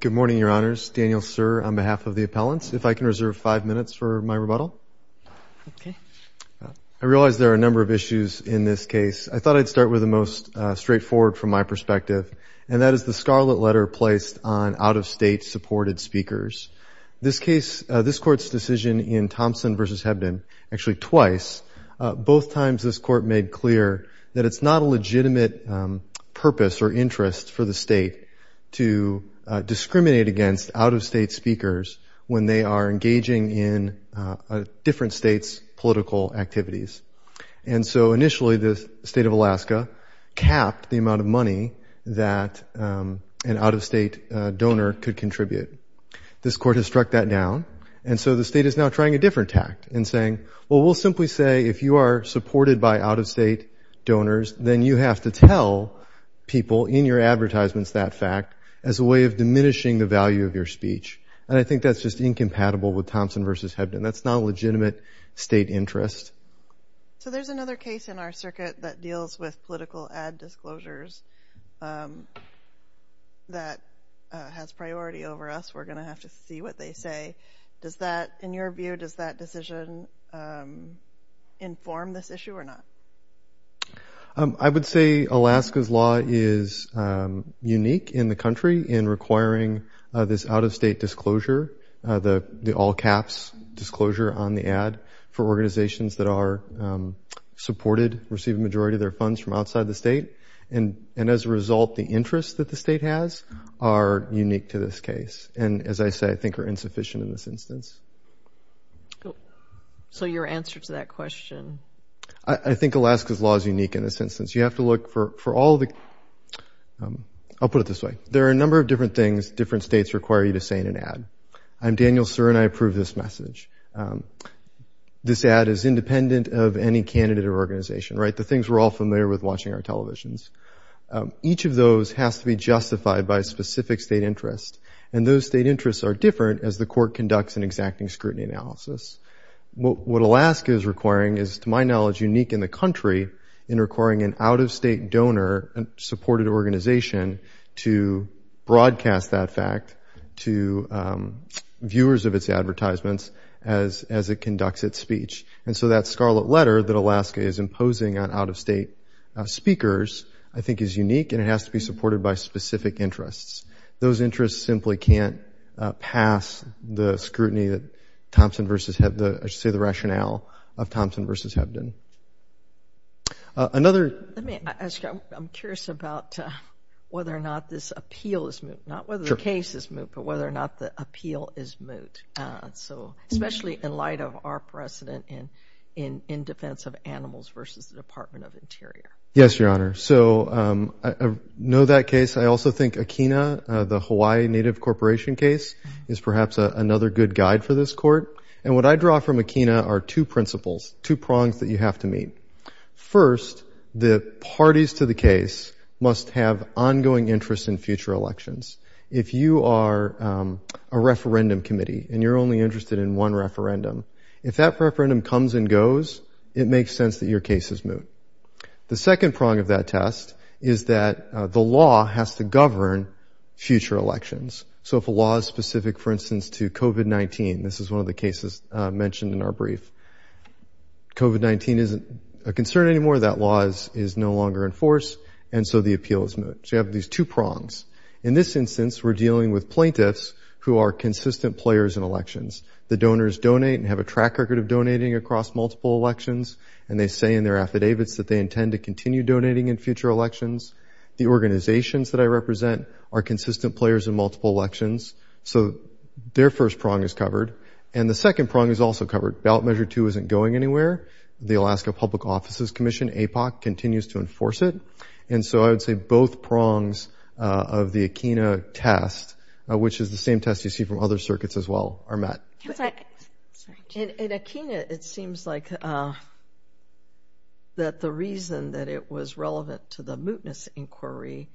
Good morning, Your Honors. Daniel Sirr on behalf of the appellants. If I can reserve five minutes for my rebuttal. Okay. I realize there are a number of issues in this case. I thought I'd start with the most straightforward from my perspective, and that is the scarlet letter placed on out-of-state supported speakers. This case, this Court's decision in Thompson v. Hebden, actually twice, both times this Court made clear that it's not a legitimate purpose or interest for the state to discriminate against out-of-state speakers when they are engaging in different states' political activities. And so initially the state of Alaska capped the amount of money that an out-of-state donor could contribute. This Court has struck that down, and so the state is now trying a different tact in saying, well, we'll simply say if you are supported by out-of-state donors, then you have to tell people in your advertisements that fact as a way of diminishing the value of your speech. And I think that's just incompatible with Thompson v. Hebden. That's not a legitimate state interest. So there's another case in our circuit that deals with political ad disclosures that has priority over us. We're going to have to see what they say. In your view, does that decision inform this issue or not? I would say Alaska's law is unique in the country in requiring this out-of-state disclosure, the all-caps disclosure on the ad for organizations that are supported, receive a majority of their funds from outside the state, and as a result the interests that the state has are unique to this case and, as I say, I think are insufficient in this instance. So your answer to that question? I think Alaska's law is unique in this instance. You have to look for all the – I'll put it this way. There are a number of different things different states require you to say in an ad. I'm Daniel Sir and I approve this message. This ad is independent of any candidate or organization, right? The things we're all familiar with watching on televisions. Each of those has to be justified by a specific state interest, and those state interests are different as the court conducts an exacting scrutiny analysis. What Alaska is requiring is, to my knowledge, unique in the country in requiring an out-of-state donor, a supported organization, to broadcast that fact to viewers of its advertisements as it conducts its speech. And so that scarlet letter that Alaska is imposing on out-of-state speakers I think is unique and it has to be supported by specific interests. Those interests simply can't pass the scrutiny that Thompson v. Hebden – I should say the rationale of Thompson v. Hebden. Another – Let me ask you, I'm curious about whether or not this appeal is moot. Not whether the case is moot, but whether or not the appeal is moot. So especially in light of our precedent in defense of animals versus the Department of Interior. Yes, Your Honor. So I know that case. I also think Akina, the Hawaii Native Corporation case, is perhaps another good guide for this court. And what I draw from Akina are two principles, two prongs that you have to meet. First, the parties to the case must have ongoing interest in future elections. If you are a referendum committee and you're only interested in one referendum, if that referendum comes and goes, it makes sense that your case is moot. The second prong of that test is that the law has to govern future elections. So if a law is specific, for instance, to COVID-19 – this is one of the cases mentioned in our brief – COVID-19 isn't a concern anymore, that law is no longer in force, and so the appeal is moot. So you have these two prongs. In this instance, we're dealing with plaintiffs who are consistent players in elections. The donors donate and have a track record of donating across multiple elections, and they say in their affidavits that they intend to continue donating in future elections. The organizations that I represent are consistent players in multiple elections. So their first prong is covered. And the second prong is also covered. Ballot Measure 2 isn't going anywhere. The Alaska Public Offices Commission, APOC, continues to enforce it. And so I would say both prongs of the Akina test, which is the same test you see from other circuits as well, are met. In Akina, it seems like that the reason that it was relevant to the mootness inquiry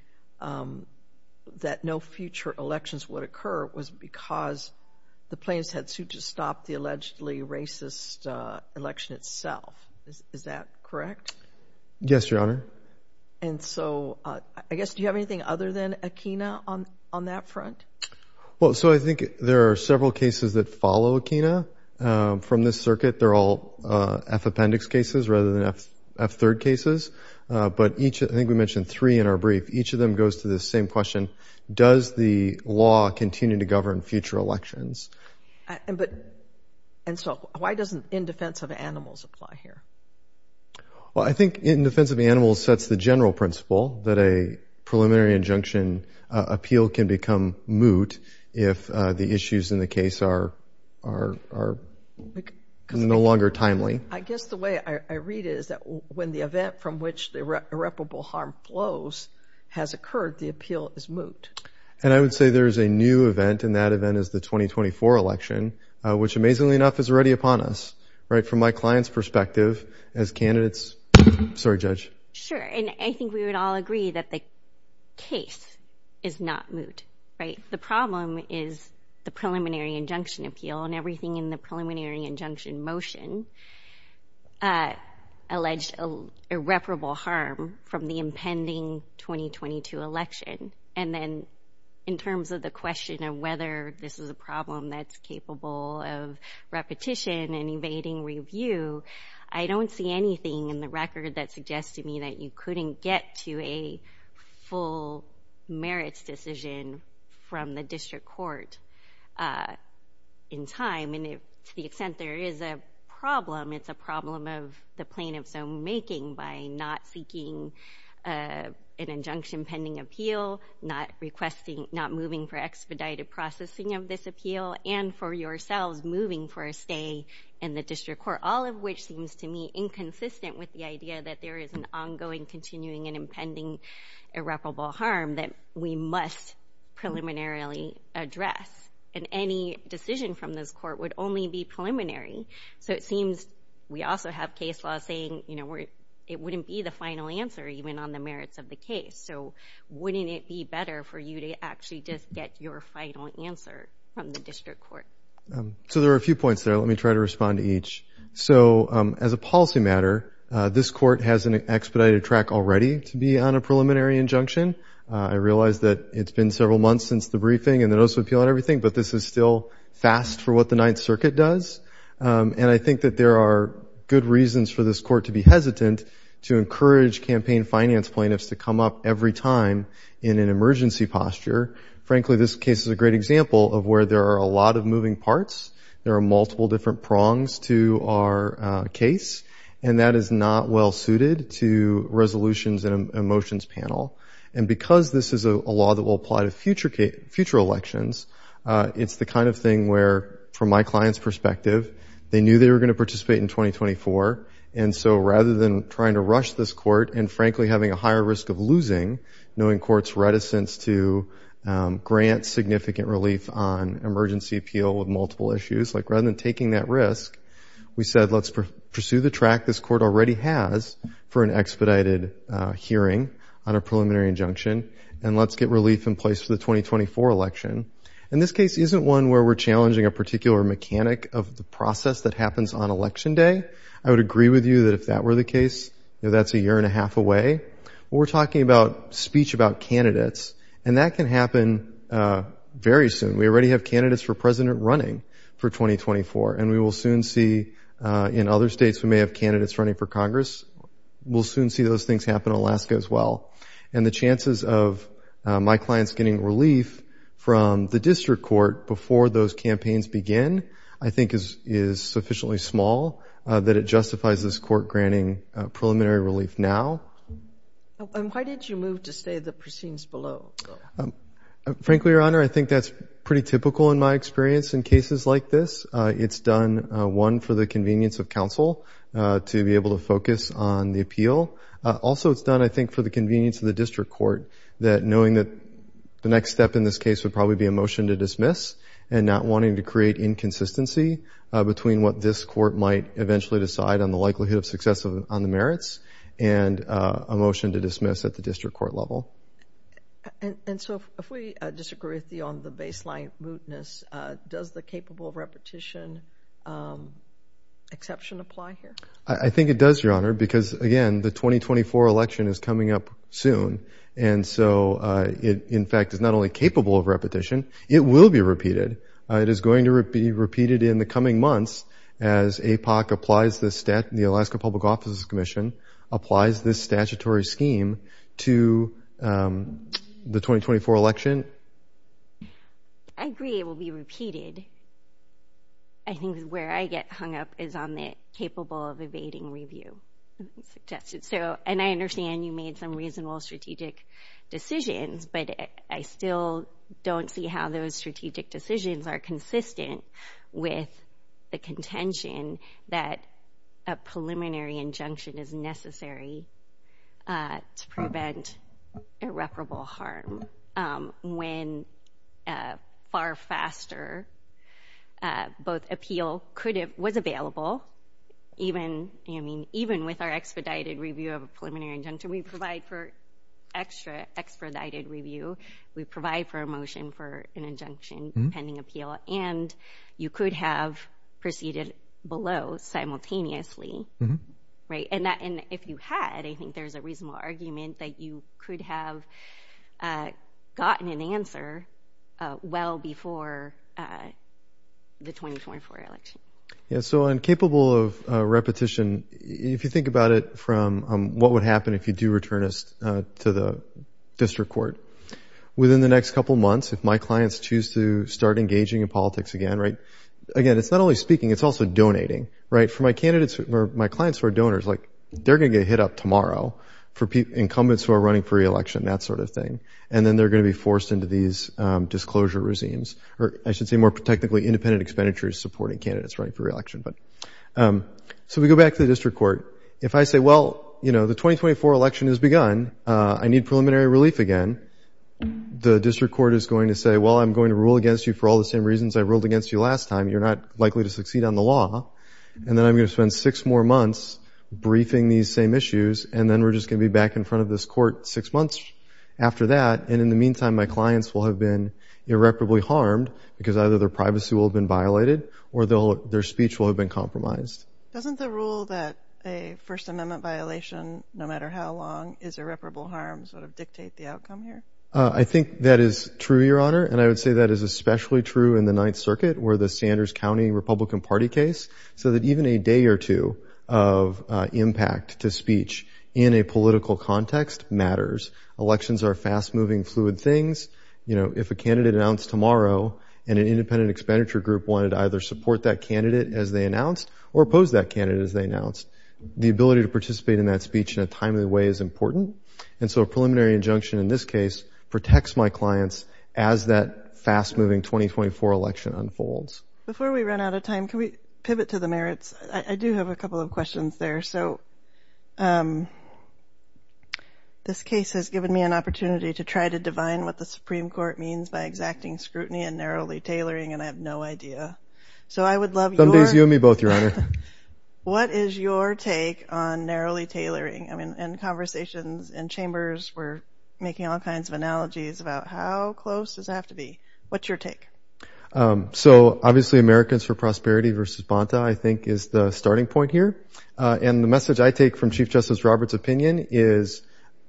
that no future elections would occur was because the plaintiffs had sued to stop the allegedly racist election itself. Is that correct? Yes, Your Honor. And so, I guess, do you have anything other than Akina on that front? Well, so I think there are several cases that follow Akina from this circuit. They're all F appendix cases rather than F third cases. But each, I think we mentioned three in our brief, each of them goes to the same question, does the law continue to govern future elections? And so why doesn't in defense of animals apply here? Well, I think in defense of animals sets the general principle that a preliminary injunction appeal can become moot if the issues in the case are no longer timely. I guess the way I read it is that when the event from which the irreparable harm flows has occurred, the appeal is moot. And I would say there is a new event, and that event is the 2024 election, which amazingly enough is already upon us, right, from my client's perspective as candidates. Sorry, Judge. Sure. And I think we would all agree that the case is not moot, right? The problem is the preliminary injunction appeal and everything in the preliminary injunction motion alleged irreparable harm from the impending 2022 election. And then in terms of the question of whether this is a problem that's capable of repetition and evading review, I don't see anything in the record that suggests to me that you couldn't get to a full merits decision from the district court in time. And to the extent there is a problem, it's a problem of the plaintiff's own making by not seeking an injunction pending appeal, not requesting, not moving for expedited processing of this appeal, and for yourselves moving for a stay in the district court. All of which seems to me inconsistent with the idea that there is an ongoing continuing and impending irreparable harm that we must preliminarily address. And any decision from this court would only be preliminary. So it seems we also have case law saying, you know, it wouldn't be the final answer even on the merits of the case. So wouldn't it be better for you to actually just get your final answer from the district court? So there are a few points there. Let me try to respond to each. So as a policy matter, this court has an expedited track already to be on a preliminary injunction. I realize that it's been several months since the briefing and the notice of appeal and everything. But this is still fast for what the Ninth Circuit does. And I think that there are good reasons for this court to be hesitant to encourage campaign finance plaintiffs to come up every time in an emergency posture. Frankly, this case is a great example of where there are a lot of moving parts. There are multiple different prongs to our case. And that is not well suited to resolutions and a motions panel. And because this is a law that will apply to future elections, it's the kind of thing where, from my client's perspective, they knew they were going to participate in 2024. And so rather than trying to rush this court and, frankly, having a higher risk of losing, knowing courts' reticence to grant significant relief on emergency appeal with multiple issues, like rather than taking that risk, we said let's pursue the track this court already has for an expedited hearing on a preliminary injunction. And let's get relief in place for the 2024 election. And this case isn't one where we're challenging a particular mechanic of the process that happens on Election Day. I would agree with you that if that were the case, that's a year and a half away. But we're talking about speech about candidates. And that can happen very soon. We already have candidates for president running for 2024. And we will soon see in other states we may have candidates running for Congress. We'll soon see those things happen in Alaska as well. And the chances of my clients getting relief from the district court before those campaigns begin, I think, is sufficiently small that it justifies this court granting preliminary relief now. And why did you move to say the proceedings below? Frankly, Your Honor, I think that's pretty typical in my experience in cases like this. It's done, one, for the convenience of counsel to be able to focus on the appeal. Also, it's done, I think, for the convenience of the district court that knowing that the next step in this case would probably be a motion to dismiss and not wanting to create inconsistency between what this court might eventually decide on the likelihood of success on the merits and a motion to dismiss at the district court level. And so if we disagree with you on the baseline mootness, does the capable repetition exception apply here? I think it does, Your Honor, because, again, the 2024 election is coming up soon. And so it, in fact, is not only capable of repetition, it will be repeated. It is going to be repeated in the coming months as APOC applies the Alaska Public Offices Commission, applies this statutory scheme to the 2024 election. I agree it will be repeated. And I think where I get hung up is on the capable of evading review suggestion. And I understand you made some reasonable strategic decisions, but I still don't see how those strategic decisions are consistent with the contention that a preliminary injunction is necessary to prevent irreparable harm when far faster both appeal was available, even with our expedited review of a preliminary injunction. We provide for extra expedited review. We provide for a motion for an injunction pending appeal. And you could have proceeded below simultaneously. And if you had, I think there is a reasonable argument that you could have gotten an answer well before the 2024 election. So on capable of repetition, if you think about it from what would happen if you do return us to the district court, within the next couple of months, if my clients choose to start engaging in politics again, again, it's not only speaking, it's also donating. For my clients who are donors, they're going to get hit up tomorrow for incumbents who are running for re-election, that sort of thing. And then they're going to be forced into these disclosure regimes, or I should say more technically independent expenditures supporting candidates running for re-election. So we go back to the district court. If I say, well, you know, the 2024 election has begun, I need preliminary relief again, the district court is going to say, well, I'm going to rule against you for all the same reasons I ruled against you last time. You're not likely to succeed on the law. And then I'm going to spend six more months briefing these same issues, and then we're just going to be back in front of this court six months after that. And in the meantime, my clients will have been irreparably harmed because either their privacy will have been violated or their speech will have been compromised. Doesn't the rule that a First Amendment violation, no matter how long, is irreparable harm sort of dictate the outcome here? I think that is true, Your Honor. And I would say that is especially true in the Ninth Circuit where the Sanders County Republican Party case, so that even a day or two of impact to speech in a political context matters. Elections are fast-moving, fluid things. You know, if a candidate announced tomorrow and an independent expenditure group wanted to either support that candidate as they announced or oppose that candidate as they announced, the ability to participate in that speech in a timely way is important. And so a preliminary injunction in this case protects my clients as that fast-moving 2024 election unfolds. Before we run out of time, can we pivot to the merits? I do have a couple of questions there. So this case has given me an opportunity to try to divine what the Supreme Court means by exacting scrutiny and narrowly tailoring, and I have no idea. Some days you and me both, Your Honor. What is your take on narrowly tailoring? I mean, in conversations and chambers, we're making all kinds of analogies about how close does it have to be. What's your take? So obviously Americans for Prosperity versus Bonta, I think, is the starting point here. And the message I take from Chief Justice Roberts' opinion is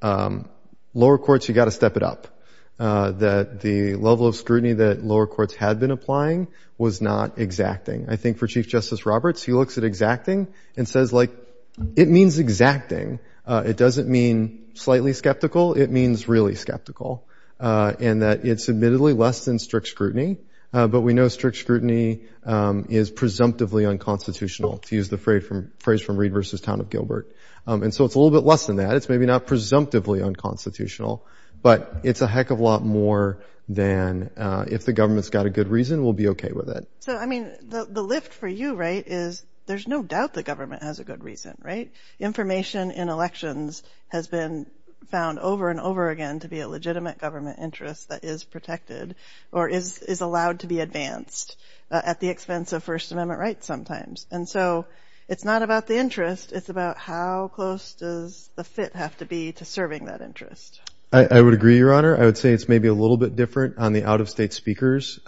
lower courts, you've got to step it up, that the level of scrutiny that lower courts had been applying was not exacting. I think for Chief Justice Roberts, he looks at exacting and says, like, it means exacting. It doesn't mean slightly skeptical. It means really skeptical in that it's admittedly less than strict scrutiny, but we know strict scrutiny is presumptively unconstitutional, to use the phrase from Reid v. Town of Gilbert. And so it's a little bit less than that. It's maybe not presumptively unconstitutional, but it's a heck of a lot more than if the government's got a good reason, we'll be okay with it. So, I mean, the lift for you, right, is there's no doubt the government has a good reason, right? Information in elections has been found over and over again to be a legitimate government interest that is protected or is allowed to be advanced at the expense of First Amendment rights sometimes. And so it's not about the interest. It's about how close does the fit have to be to serving that interest. I would agree, Your Honor. I would say it's maybe a little bit different on the out-of-state speakers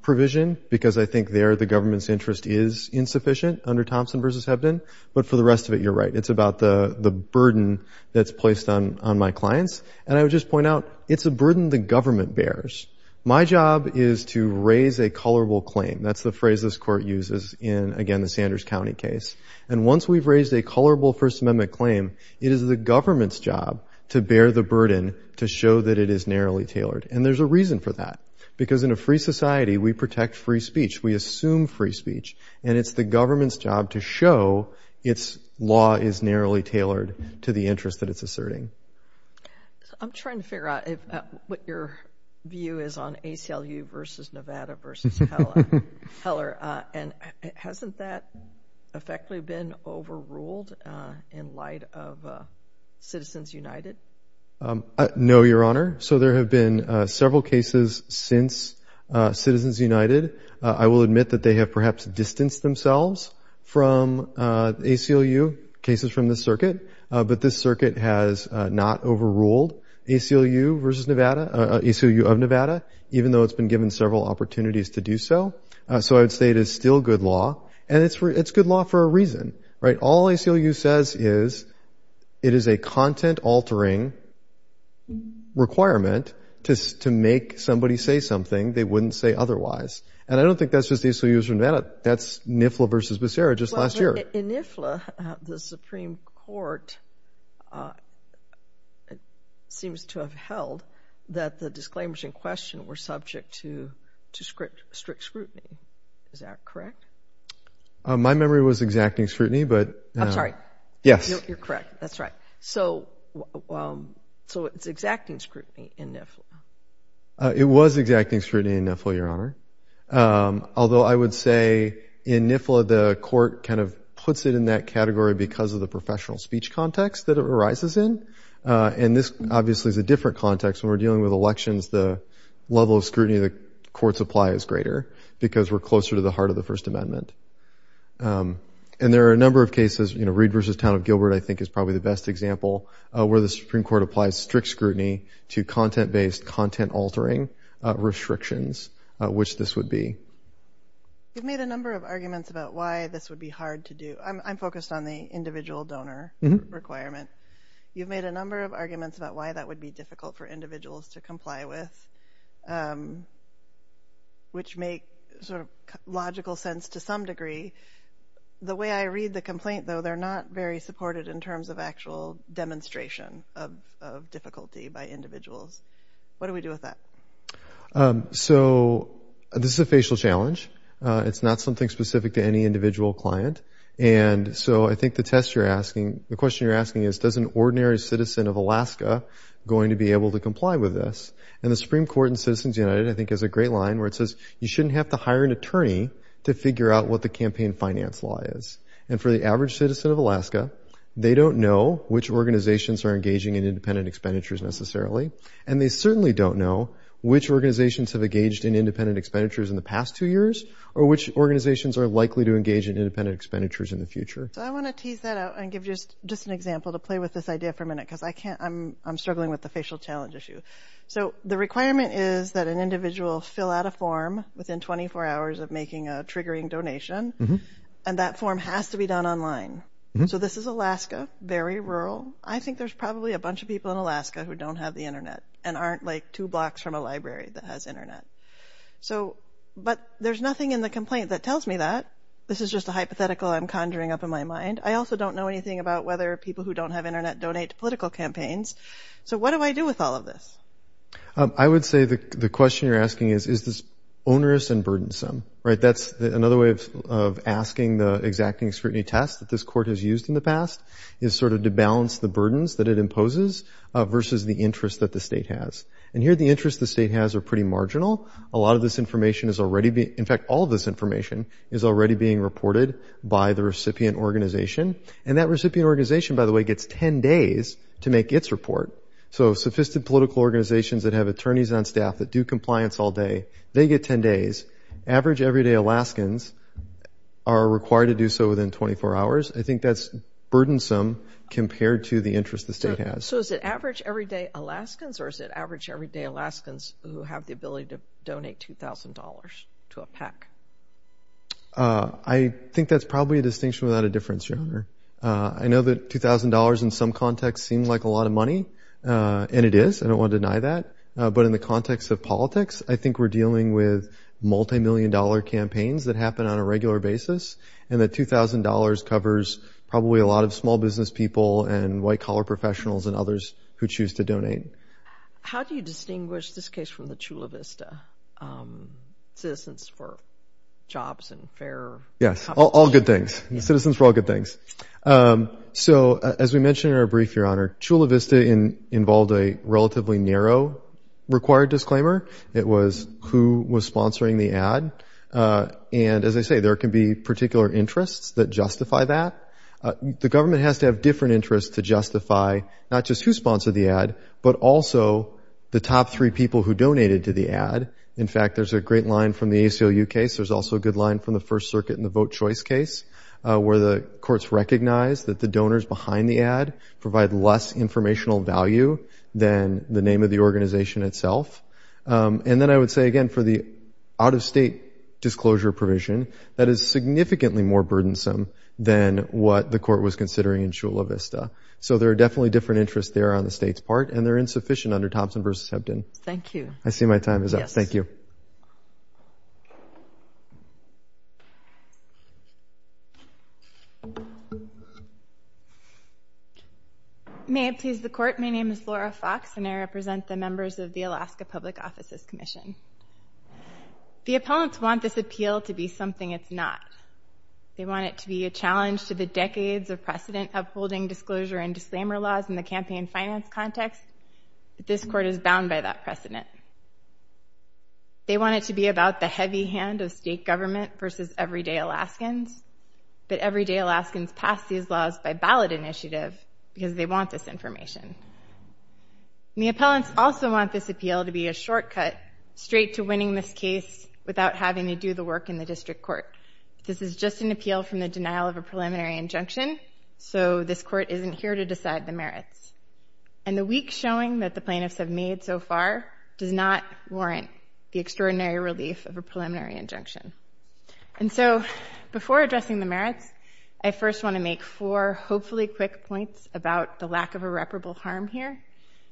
provision because I think there the government's interest is insufficient under Thompson v. Hebden. But for the rest of it, you're right. It's about the burden that's placed on my clients. And I would just point out it's a burden the government bears. My job is to raise a colorable claim. That's the phrase this Court uses in, again, the Sanders County case. And once we've raised a colorable First Amendment claim, it is the government's job to bear the burden to show that it is narrowly tailored. And there's a reason for that. Because in a free society, we protect free speech. We assume free speech. And it's the government's job to show its law is narrowly tailored to the interest that it's asserting. I'm trying to figure out what your view is on ACLU v. Nevada v. Heller. And hasn't that effectively been overruled in light of Citizens United? No, Your Honor. So there have been several cases since Citizens United. I will admit that they have perhaps distanced themselves from ACLU cases from this circuit. But this circuit has not overruled ACLU v. Nevada, ACLU of Nevada, even though it's been given several opportunities to do so. So I would say it is still good law. And it's good law for a reason, right? All ACLU says is it is a content-altering requirement to make somebody say something they wouldn't say otherwise. And I don't think that's just ACLU v. Nevada. That's NIFLA v. Becerra just last year. In NIFLA, the Supreme Court seems to have held that the disclaimers in question were subject to strict scrutiny. Is that correct? My memory was exacting scrutiny. I'm sorry. Yes. You're correct. That's right. So it's exacting scrutiny in NIFLA. It was exacting scrutiny in NIFLA, Your Honor. Although I would say in NIFLA, the court kind of puts it in that category because of the professional speech context that it arises in. And this obviously is a different context. When we're dealing with elections, the level of scrutiny the courts apply is greater because we're closer to the heart of the First Amendment. And there are a number of cases, you know, Reed v. Town of Gilbert, I think, is probably the best example where the Supreme Court applies strict scrutiny to content-based content-altering restrictions, which this would be. You've made a number of arguments about why this would be hard to do. I'm focused on the individual donor requirement. You've made a number of arguments about why that would be difficult for individuals to comply with, which make sort of logical sense to some degree. The way I read the complaint, though, they're not very supported in terms of actual demonstration of difficulty by individuals. What do we do with that? So this is a facial challenge. It's not something specific to any individual client. And so I think the test you're asking, the question you're asking is, does an ordinary citizen of Alaska going to be able to comply with this? And the Supreme Court in Citizens United, I think, has a great line where it says, you shouldn't have to hire an attorney to figure out what the campaign finance law is. And for the average citizen of Alaska, they don't know which organizations are engaging in independent expenditures necessarily. And they certainly don't know which organizations have engaged in independent expenditures in the past two years or which organizations are likely to engage in independent expenditures in the future. So I want to tease that out and give just an example to play with this idea for a minute because I'm struggling with the facial challenge issue. So the requirement is that an individual fill out a form within 24 hours of making a triggering donation. And that form has to be done online. So this is Alaska, very rural. I think there's probably a bunch of people in Alaska who don't have the Internet and aren't like two blocks from a library that has Internet. But there's nothing in the complaint that tells me that. This is just a hypothetical I'm conjuring up in my mind. I also don't know anything about whether people who don't have Internet donate to political campaigns. So what do I do with all of this? I would say the question you're asking is, is this onerous and burdensome? Right, that's another way of asking the exacting scrutiny test that this court has used in the past is sort of to balance the burdens that it imposes versus the interest that the state has. And here the interests the state has are pretty marginal. A lot of this information is already being, in fact, all of this information is already being reported by the recipient organization. And that recipient organization, by the way, gets 10 days to make its report. So sophisticated political organizations that have attorneys on staff that do compliance all day, they get 10 days. Average everyday Alaskans are required to do so within 24 hours. I think that's burdensome compared to the interest the state has. So is it average everyday Alaskans or is it average everyday Alaskans who have the ability to donate $2,000 to a PAC? I think that's probably a distinction without a difference, Your Honor. I know that $2,000 in some contexts seems like a lot of money, and it is. I don't want to deny that. But in the context of politics, I think we're dealing with multimillion-dollar campaigns that happen on a regular basis, and that $2,000 covers probably a lot of small business people and white-collar professionals and others who choose to donate. How do you distinguish this case from the Chula Vista, citizens for jobs and fair competition? Yes, all good things. Citizens for all good things. So as we mentioned in our brief, Your Honor, Chula Vista involved a relatively narrow required disclaimer. It was who was sponsoring the ad. And as I say, there can be particular interests that justify that. The government has to have different interests to justify not just who sponsored the ad but also the top three people who donated to the ad. In fact, there's a great line from the ACLU case. There's also a good line from the First Circuit in the vote choice case where the courts recognize that the donors behind the ad provide less informational value than the name of the organization itself. And then I would say again for the out-of-state disclosure provision, that is significantly more burdensome than what the court was considering in Chula Vista. So there are definitely different interests there on the state's part, and they're insufficient under Thompson v. Hebden. Thank you. I see my time is up. Thank you. Thank you. May I please the court? My name is Laura Fox, and I represent the members of the Alaska Public Offices Commission. The appellants want this appeal to be something it's not. They want it to be a challenge to the decades of precedent upholding disclosure and disclaimer laws in the campaign finance context, but this court is bound by that precedent. They want it to be about the heavy hand of state government versus everyday Alaskans, but everyday Alaskans pass these laws by ballot initiative because they want this information. And the appellants also want this appeal to be a shortcut straight to winning this case without having to do the work in the district court. This is just an appeal from the denial of a preliminary injunction, so this court isn't here to decide the merits. And the weak showing that the plaintiffs have made so far does not warrant the extraordinary relief of a preliminary injunction. And so before addressing the merits, I first want to make four hopefully quick points about the lack of irreparable harm here,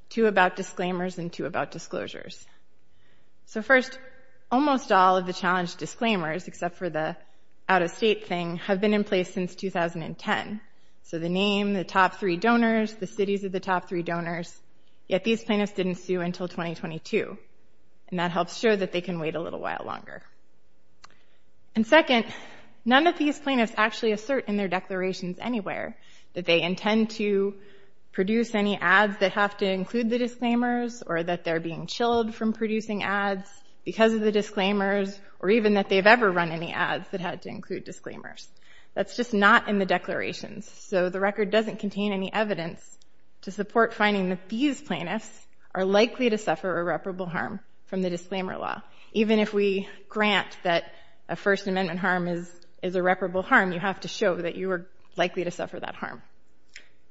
two about disclaimers and two about disclosures. So first, almost all of the challenge disclaimers, except for the out-of-state thing, have been in place since 2010. So the name, the top three donors, the cities of the top three donors, yet these plaintiffs didn't sue until 2022, and that helps show that they can wait a little while longer. And second, none of these plaintiffs actually assert in their declarations anywhere that they intend to produce any ads that have to include the disclaimers or that they're being chilled from producing ads because of the disclaimers or even that they've ever run any ads that had to include disclaimers. That's just not in the declarations. So the record doesn't contain any evidence to support finding that these plaintiffs are likely to suffer irreparable harm from the disclaimer law. Even if we grant that a First Amendment harm is irreparable harm, you have to show that you are likely to suffer that harm.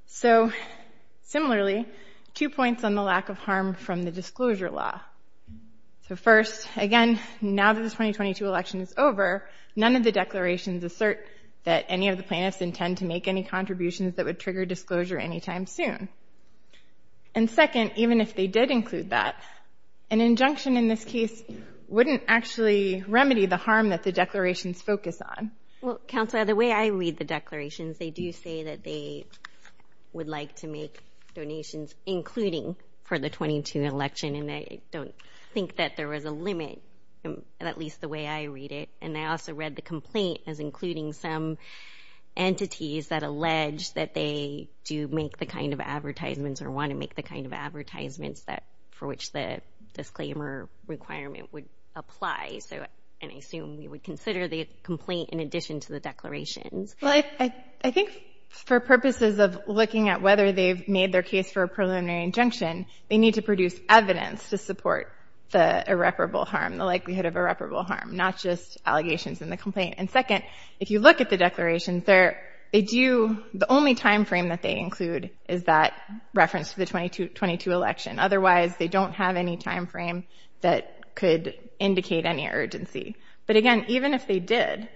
So similarly, two points on the lack of harm from the disclosure law. So first, again, now that the 2022 election is over, none of the declarations assert that any of the plaintiffs intend to make any contributions that would trigger disclosure anytime soon. And second, even if they did include that, an injunction in this case wouldn't actually remedy the harm that the declarations focus on. Well, Counselor, the way I read the declarations, they do say that they would like to make donations including for the 2022 election, and I don't think that there was a limit, at least the way I read it. And I also read the complaint as including some entities that allege that they do make the kind of advertisements or want to make the kind of advertisements for which the disclaimer requirement would apply. And I assume you would consider the complaint in addition to the declarations. Well, I think for purposes of looking at whether they've made their case for a preliminary injunction, they need to produce evidence to support the irreparable harm, the likelihood of irreparable harm, not just allegations in the complaint. And second, if you look at the declaration, the only time frame that they include is that reference to the 2022 election. Otherwise, they don't have any time frame that could indicate any urgency. But again, even if they did,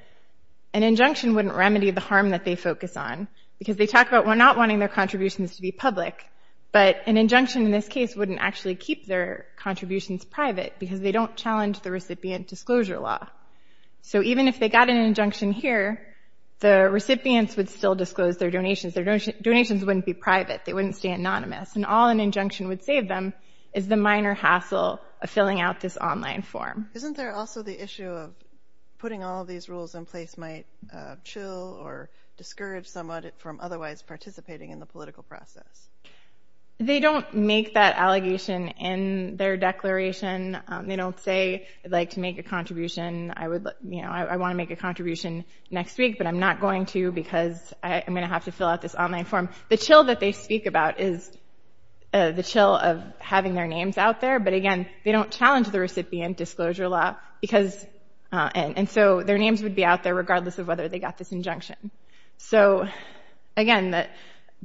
an injunction wouldn't remedy the harm that they focus on because they talk about not wanting their contributions to be public, but an injunction in this case wouldn't actually keep their contributions private because they don't challenge the recipient disclosure law. So even if they got an injunction here, the recipients would still disclose their donations. Their donations wouldn't be private. They wouldn't stay anonymous. And all an injunction would save them is the minor hassle of filling out this online form. Isn't there also the issue of putting all these rules in place might chill or discourage someone from otherwise participating in the political process? They don't make that allegation in their declaration. They don't say, I'd like to make a contribution. I want to make a contribution next week, but I'm not going to because I'm going to have to fill out this online form. The chill that they speak about is the chill of having their names out there. But again, they don't challenge the recipient disclosure law. And so their names would be out there regardless of whether they got this injunction. So again,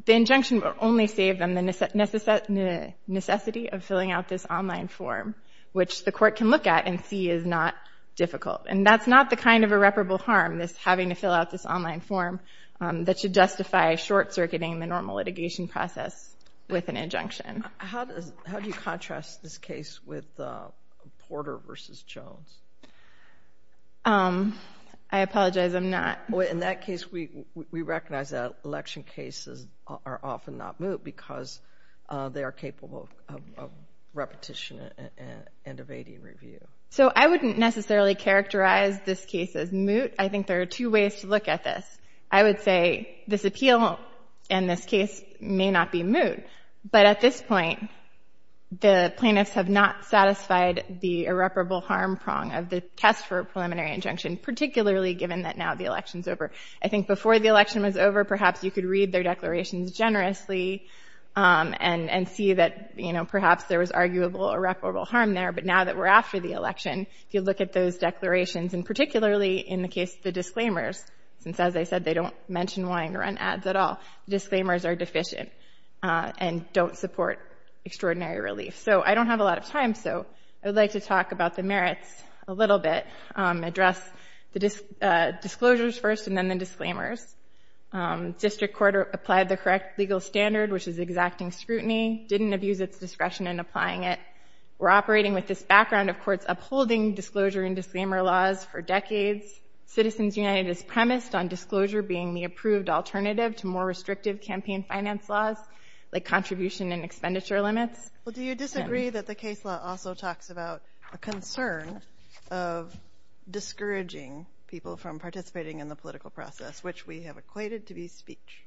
the injunction would only save them the necessity of filling out this online form, which the court can look at and see is not difficult. And that's not the kind of irreparable harm, this having to fill out this online form that should justify short-circuiting the normal litigation process with an injunction. How do you contrast this case with Porter v. Jones? I apologize, I'm not. In that case, we recognize that election cases are often not moot because they are capable of repetition and evading review. So I wouldn't necessarily characterize this case as moot. I think there are two ways to look at this. I would say this appeal in this case may not be moot, but at this point the plaintiffs have not satisfied the irreparable harm prong of the test for a preliminary injunction, particularly given that now the election is over. I think before the election was over, perhaps you could read their declarations generously and see that perhaps there was arguable irreparable harm there. But now that we're after the election, if you look at those declarations, and particularly in the case of the disclaimers, since as I said they don't mention wanting to run ads at all, the disclaimers are deficient and don't support extraordinary relief. So I don't have a lot of time, so I would like to talk about the merits a little bit, address the disclosures first and then the disclaimers. District Court applied the correct legal standard, which is exacting scrutiny, didn't abuse its discretion in applying it. We're operating with this background of courts upholding disclosure and disclaimer laws for decades. Citizens United is premised on disclosure being the approved alternative to more restrictive campaign finance laws like contribution and expenditure limits. Well, do you disagree that the case law also talks about a concern of discouraging people from participating in the political process, which we have equated to be speech?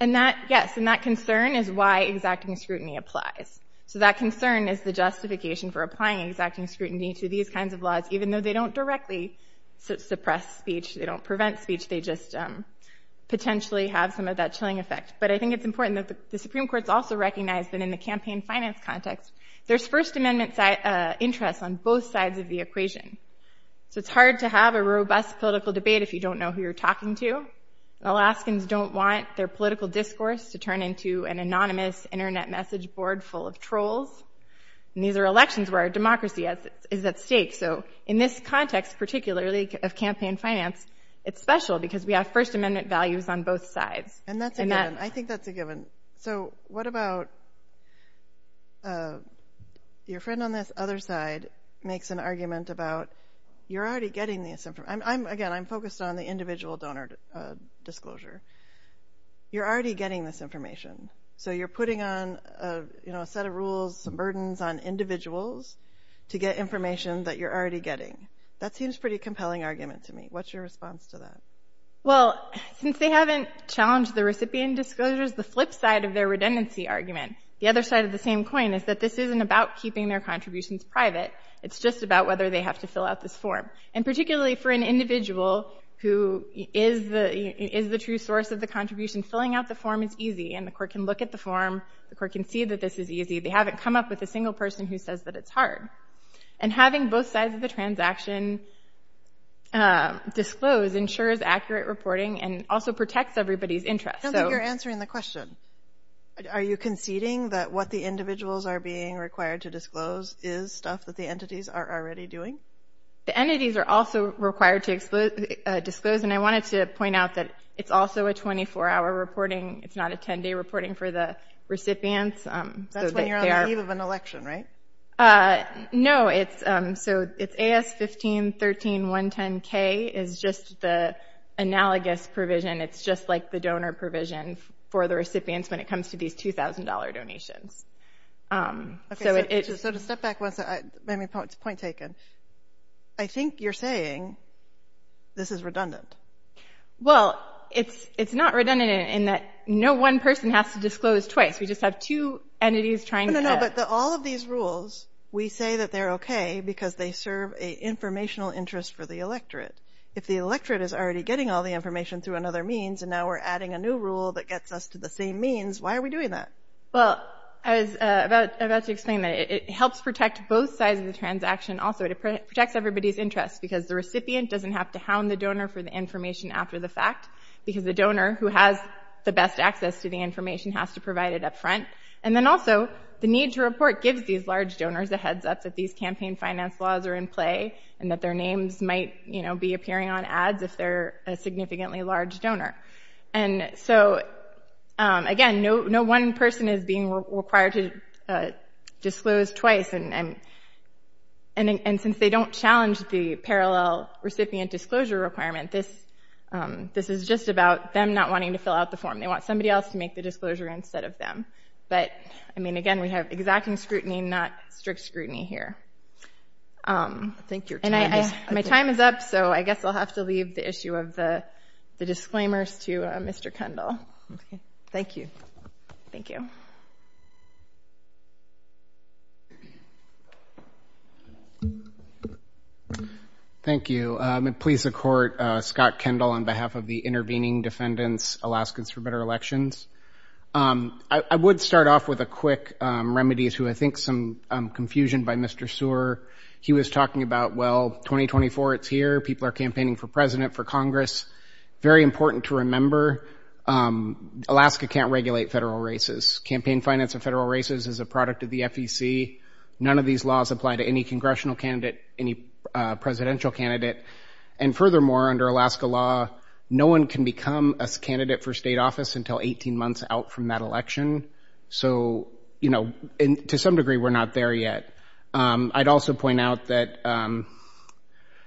Yes, and that concern is why exacting scrutiny applies. So that concern is the justification for applying exacting scrutiny to these kinds of laws, even though they don't directly suppress speech, they don't prevent speech, they just potentially have some of that chilling effect. But I think it's important that the Supreme Court's also recognized that in the campaign finance context, there's First Amendment interests on both sides of the equation. So it's hard to have a robust political debate if you don't know who you're talking to. Alaskans don't want their political discourse to turn into an anonymous Internet message board full of trolls. And these are elections where our democracy is at stake. So in this context, particularly of campaign finance, it's special because we have First Amendment values on both sides. And that's a given. I think that's a given. So what about your friend on this other side makes an argument about, you're already getting this information. Again, I'm focused on the individual donor disclosure. You're already getting this information. So you're putting on a set of rules, some burdens on individuals to get information that you're already getting. That seems a pretty compelling argument to me. What's your response to that? Well, since they haven't challenged the recipient disclosures, the flip side of their redundancy argument, the other side of the same coin, is that this isn't about keeping their contributions private. It's just about whether they have to fill out this form. And particularly for an individual who is the true source of the contribution, filling out the form is easy, and the court can look at the form, the court can see that this is easy. They haven't come up with a single person who says that it's hard. And having both sides of the transaction disclose ensures accurate reporting and also protects everybody's interest. I don't think you're answering the question. Are you conceding that what the individuals are being required to disclose is stuff that the entities are already doing? The entities are also required to disclose, and I wanted to point out that it's also a 24-hour reporting. It's not a 10-day reporting for the recipients. That's when you're on the eve of an election, right? No. So it's AS-15-13-110-K is just the analogous provision. It's just like the donor provision for the recipients when it comes to these $2,000 donations. Okay, so to step back once, maybe it's a point taken, I think you're saying this is redundant. Well, it's not redundant in that no one person has to disclose twice. We just have two entities trying to… But all of these rules, we say that they're okay because they serve an informational interest for the electorate. If the electorate is already getting all the information through another means and now we're adding a new rule that gets us to the same means, why are we doing that? Well, I was about to explain that. It helps protect both sides of the transaction also. It protects everybody's interest because the recipient doesn't have to hound the donor for the information after the fact because the donor who has the best access to the information has to provide it up front. And then also, the need to report gives these large donors a heads up that these campaign finance laws are in play and that their names might be appearing on ads if they're a significantly large donor. And so, again, no one person is being required to disclose twice. And since they don't challenge the parallel recipient disclosure requirement, this is just about them not wanting to fill out the form. They want somebody else to make the disclosure instead of them. But, I mean, again, we have exacting scrutiny, not strict scrutiny here. And my time is up, so I guess I'll have to leave the issue of the disclaimers to Mr. Kendall. Thank you. Thank you. Thank you. I'm going to please the Court. Scott Kendall on behalf of the intervening defendants, Alaskans for Better Elections. I would start off with a quick remedy to, I think, some confusion by Mr. Sewer. He was talking about, well, 2024, it's here. People are campaigning for president, for Congress. Very important to remember, Alaska can't regulate federal races. Campaign finance of federal races is a product of the FEC. None of these laws apply to any congressional candidate, any presidential candidate. And furthermore, under Alaska law, no one can become a candidate for state office until 18 months out from that election. So, you know, to some degree, we're not there yet. I'd also point out that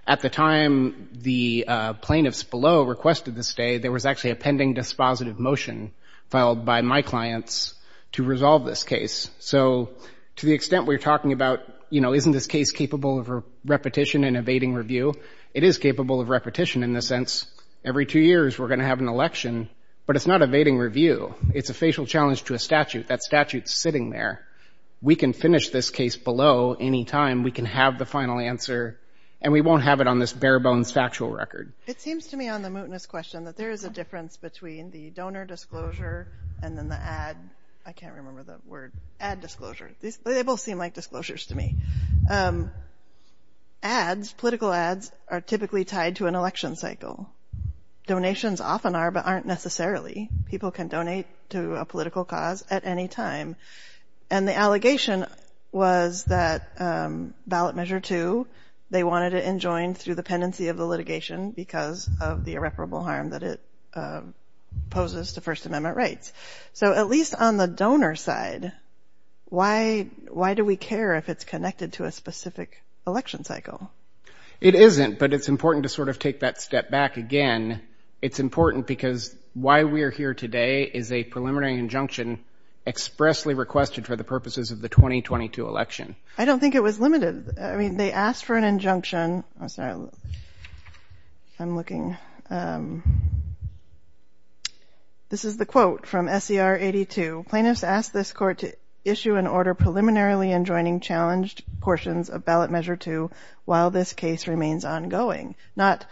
at the time the plaintiffs below requested this day, there was actually a pending dispositive motion filed by my clients to resolve this case. So to the extent we're talking about, you know, it is capable of repetition in the sense every two years we're going to have an election, but it's not evading review. It's a facial challenge to a statute. That statute's sitting there. We can finish this case below any time. We can have the final answer, and we won't have it on this bare-bones factual record. It seems to me on the mootness question that there is a difference between the donor disclosure and then the ad. I can't remember the word. Ad disclosure. They both seem like disclosures to me. Ads, political ads, are typically tied to an election cycle. Donations often are but aren't necessarily. People can donate to a political cause at any time. And the allegation was that ballot measure two, they wanted it enjoined through the pendency of the litigation because of the irreparable harm that it poses to First Amendment rights. So at least on the donor side, why do we care if it's connected to a specific election cycle? It isn't, but it's important to sort of take that step back again. It's important because why we're here today is a preliminary injunction expressly requested for the purposes of the 2022 election. I don't think it was limited. I mean, they asked for an injunction. I'm looking. This is the quote from SCR 82. Plaintiffs asked this court to issue an order preliminarily enjoining challenged portions of ballot measure two while this case remains ongoing, not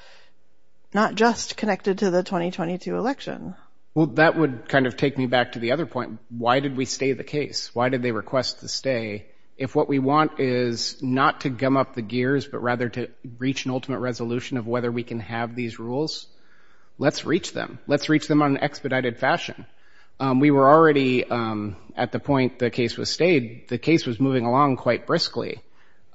just connected to the 2022 election. Well, that would kind of take me back to the other point. Why did we stay the case? Why did they request the stay if what we want is not to gum up the gears but rather to reach an ultimate resolution of whether we can have these rules? Let's reach them. Let's reach them on an expedited fashion. We were already at the point the case was stayed. The case was moving along quite briskly.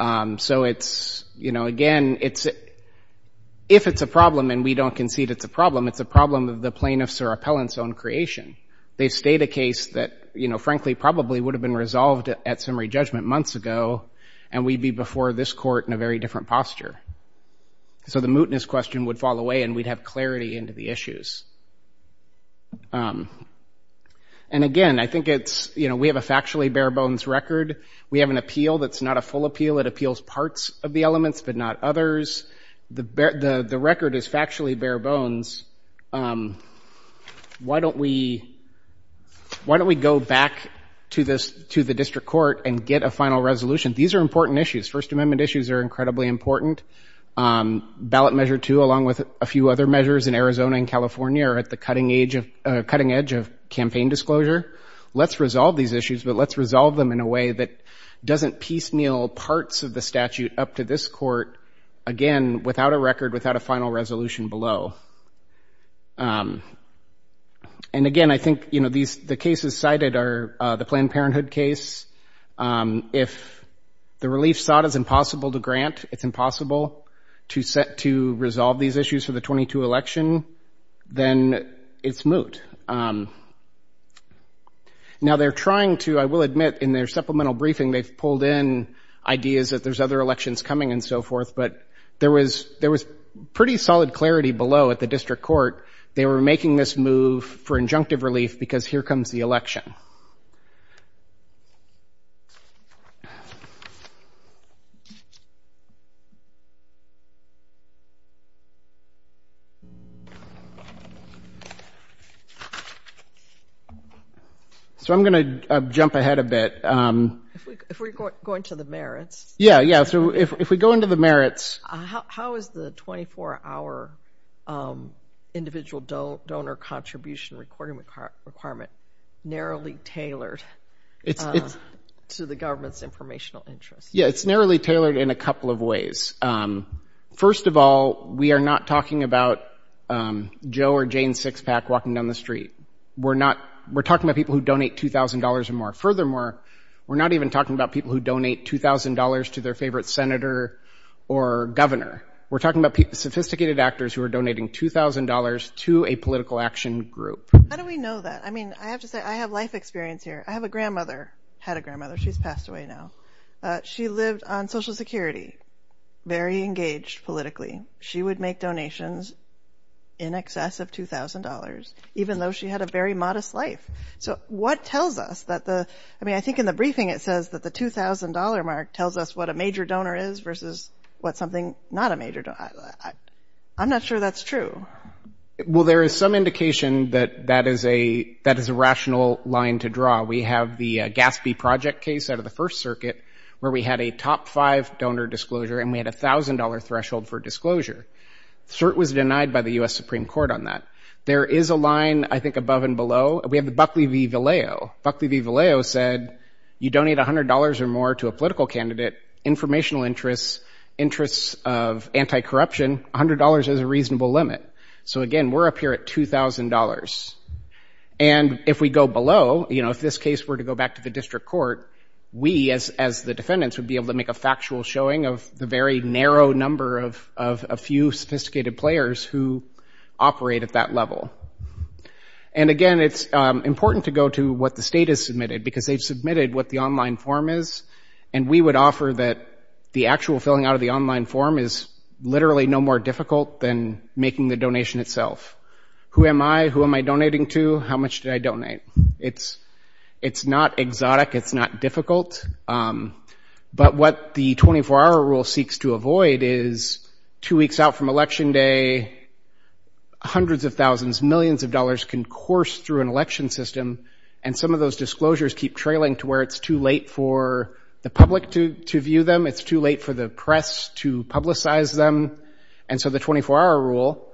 So it's, you know, again, if it's a problem and we don't concede it's a problem, it's a problem of the plaintiff's or appellant's own creation. They stayed a case that, you know, frankly, probably would have been resolved at summary judgment months ago and we'd be before this court in a very different posture. So the mootness question would fall away and we'd have clarity into the issues. And again, I think it's, you know, we have a factually bare bones record. We have an appeal that's not a full appeal. It appeals parts of the elements but not others. The record is factually bare bones. Why don't we go back to the district court and get a final resolution? These are important issues. First Amendment issues are incredibly important. Ballot Measure 2, along with a few other measures in Arizona and California, are at the cutting edge of campaign disclosure. Let's resolve these issues but let's resolve them in a way that doesn't piecemeal parts of the statute up to this court, again, without a record, without a final resolution below. And again, I think, you know, the cases cited are the Planned Parenthood case. If the relief sought is impossible to grant, it's impossible to resolve these issues for the 22 election, then it's moot. Now, they're trying to, I will admit, in their supplemental briefing, they've pulled in ideas that there's other elections coming and so forth, but there was pretty solid clarity below at the district court. They were making this move for injunctive relief because here comes the election. Okay. So I'm going to jump ahead a bit. If we go into the merits. Yeah, yeah, so if we go into the merits. How is the 24-hour individual donor contribution recording requirement narrowly tailored to the government's informational interests? Yeah, it's narrowly tailored in a couple of ways. First of all, we are not talking about Joe or Jane Sixpack walking down the street. We're talking about people who donate $2,000 or more. Furthermore, we're not even talking about people who donate $2,000 to their favorite senator or governor. We're talking about sophisticated actors who are donating $2,000 to a political action group. How do we know that? I mean, I have to say I have life experience here. I have a grandmother, had a grandmother. She's passed away now. She lived on Social Security, very engaged politically. She would make donations in excess of $2,000, even though she had a very modest life. So what tells us that the – I mean, I think in the briefing it says that the $2,000 mark tells us what a major donor is versus what something not a major – I'm not sure that's true. Well, there is some indication that that is a rational line to draw. We have the GASB project case out of the First Circuit where we had a top-five donor disclosure and we had a $1,000 threshold for disclosure. The cert was denied by the U.S. Supreme Court on that. There is a line, I think, above and below. We have the Buckley v. Vallejo. Buckley v. Vallejo said you donate $100 or more to a political candidate, informational interests, interests of anti-corruption, $100 is a reasonable limit. So, again, we're up here at $2,000. And if we go below, you know, if this case were to go back to the district court, we as the defendants would be able to make a factual showing of the very narrow number of a few sophisticated players who operate at that level. And, again, it's important to go to what the state has submitted because they've submitted what the online form is and we would offer that the actual filling out of the online form is literally no more difficult than making the donation itself. Who am I? Who am I donating to? How much did I donate? It's not exotic. It's not difficult. But what the 24-hour rule seeks to avoid is two weeks out from Election Day, hundreds of thousands, millions of dollars can course through an election system and some of those disclosures keep trailing to where it's too late for the public to view them. It's too late for the press to publicize them. And so the 24-hour rule,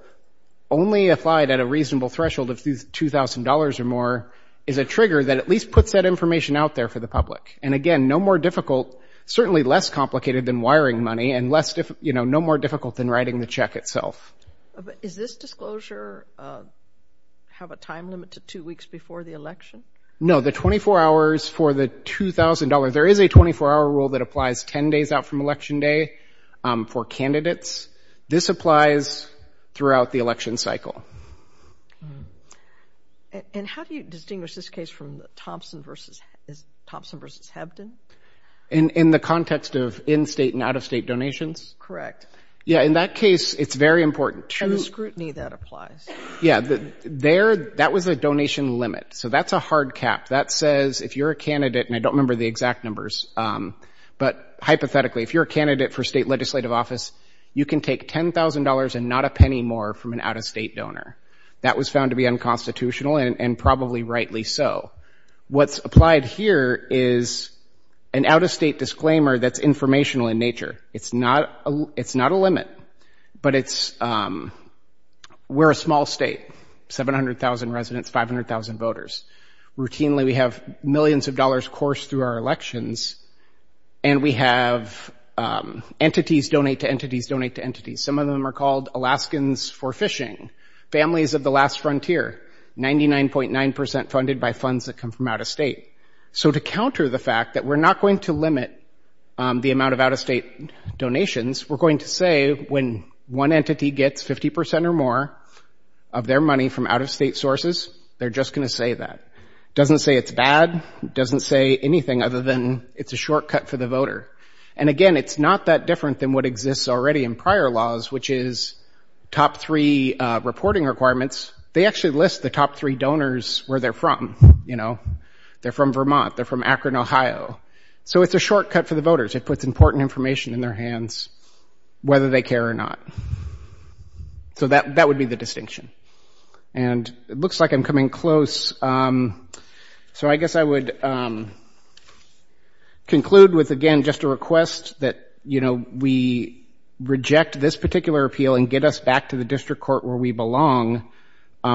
only applied at a reasonable threshold of $2,000 or more, is a trigger that at least puts that information out there for the public. And, again, no more difficult, certainly less complicated than wiring money and no more difficult than writing the check itself. Is this disclosure have a time limit to two weeks before the election? No, the 24 hours for the $2,000, there is a 24-hour rule that applies 10 days out from Election Day for candidates. This applies throughout the election cycle. And how do you distinguish this case from Thompson v. Hebden? In the context of in-state and out-of-state donations? Correct. Yeah, in that case, it's very important. And the scrutiny that applies. Yeah, that was a donation limit, so that's a hard cap. That says if you're a candidate, and I don't remember the exact numbers, but hypothetically, if you're a candidate for state legislative office, you can take $10,000 and not a penny more from an out-of-state donor. That was found to be unconstitutional and probably rightly so. What's applied here is an out-of-state disclaimer that's informational in nature. It's not a limit, but it's we're a small state, 700,000 residents, 500,000 voters, routinely we have millions of dollars coursed through our elections, and we have entities donate to entities donate to entities. Some of them are called Alaskans for Fishing, Families of the Last Frontier, 99.9% funded by funds that come from out-of-state. So to counter the fact that we're not going to limit the amount of out-of-state donations, we're going to say when one entity gets 50% or more of their money from out-of-state sources, they're just going to say that. It doesn't say it's bad. It doesn't say anything other than it's a shortcut for the voter. And again, it's not that different than what exists already in prior laws, which is top three reporting requirements. They actually list the top three donors where they're from. They're from Vermont. They're from Akron, Ohio. So it's a shortcut for the voters. It puts important information in their hands whether they care or not. So that would be the distinction. And it looks like I'm coming close. So I guess I would conclude with, again, just a request that, you know, we reject this particular appeal and get us back to the district court where we belong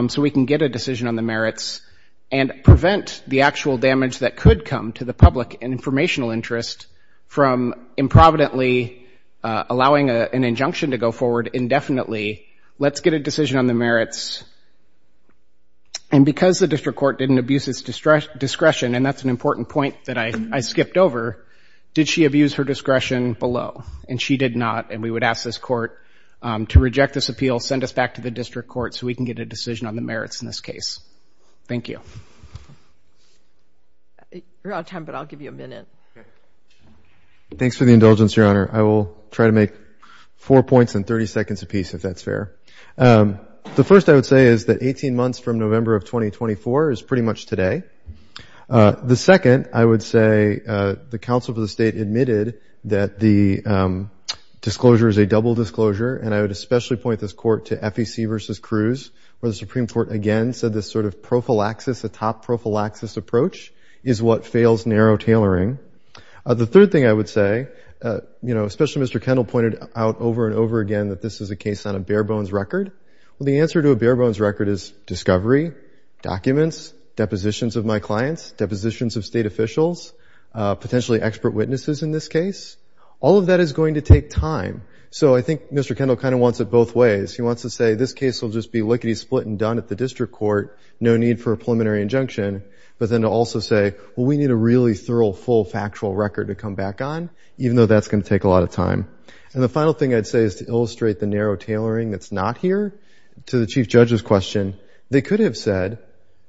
so we can get a decision on the merits and prevent the actual damage that could come to the public and informational interest from improvidently allowing an injunction to go forward indefinitely. Let's get a decision on the merits. And because the district court didn't abuse its discretion, and that's an important point that I skipped over, did she abuse her discretion below? And she did not. And we would ask this court to reject this appeal, send us back to the district court, so we can get a decision on the merits in this case. Thank you. You're out of time, but I'll give you a minute. Thanks for the indulgence, Your Honor. I will try to make four points in 30 seconds apiece, if that's fair. The first I would say is that 18 months from November of 2024 is pretty much today. The second, I would say the counsel for the state admitted that the disclosure is a double disclosure, and I would especially point this court to FEC versus Cruz, where the Supreme Court again said this sort of prophylaxis, a top prophylaxis approach is what fails narrow tailoring. The third thing I would say, you know, especially Mr. Kendall pointed out over and over again that this is a case on a bare bones record. Well, the answer to a bare bones record is discovery, documents, depositions of my clients, depositions of state officials, potentially expert witnesses in this case. All of that is going to take time. So I think Mr. Kendall kind of wants it both ways. He wants to say this case will just be lickety split and done at the district court, no need for a preliminary injunction, but then to also say, well, we need a really thorough, full factual record to come back on, even though that's going to take a lot of time. And the final thing I'd say is to illustrate the narrow tailoring that's not here. To the Chief Judge's question, they could have said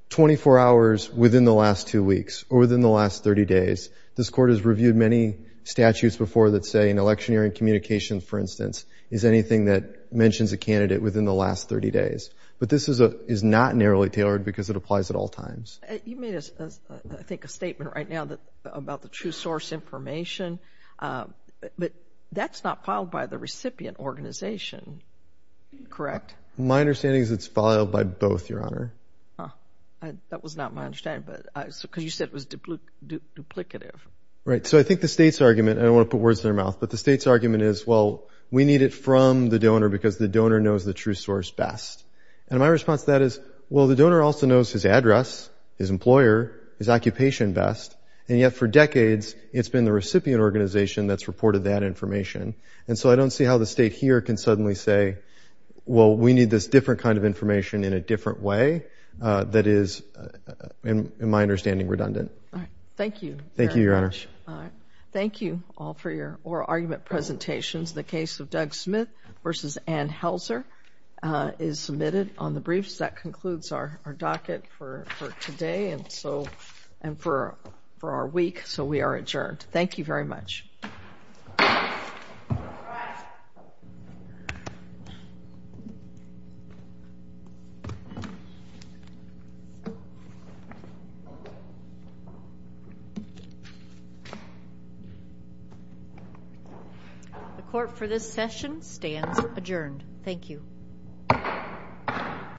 24 hours within the last two weeks or within the last 30 days. This court has reviewed many statutes before that say an electioneering communication, for instance, is anything that mentions a candidate within the last 30 days. But this is not narrowly tailored because it applies at all times. You made, I think, a statement right now about the true source information, but that's not filed by the recipient organization, correct? My understanding is it's filed by both, Your Honor. That was not my understanding because you said it was duplicative. Right. So I think the state's argument, and I don't want to put words in their mouth, but the state's argument is, well, we need it from the donor because the donor knows the true source best. And my response to that is, well, the donor also knows his address, his employer, his occupation best, and yet for decades it's been the recipient organization that's reported that information. And so I don't see how the state here can suddenly say, well, we need this different kind of information in a different way that is, in my understanding, redundant. Thank you very much. Thank you, Your Honor. All right. Thank you all for your oral argument presentations. The case of Doug Smith v. Ann Helzer is submitted on the briefs. That concludes our docket for today and for our week. So we are adjourned. Thank you very much. The court for this session stands adjourned. Thank you.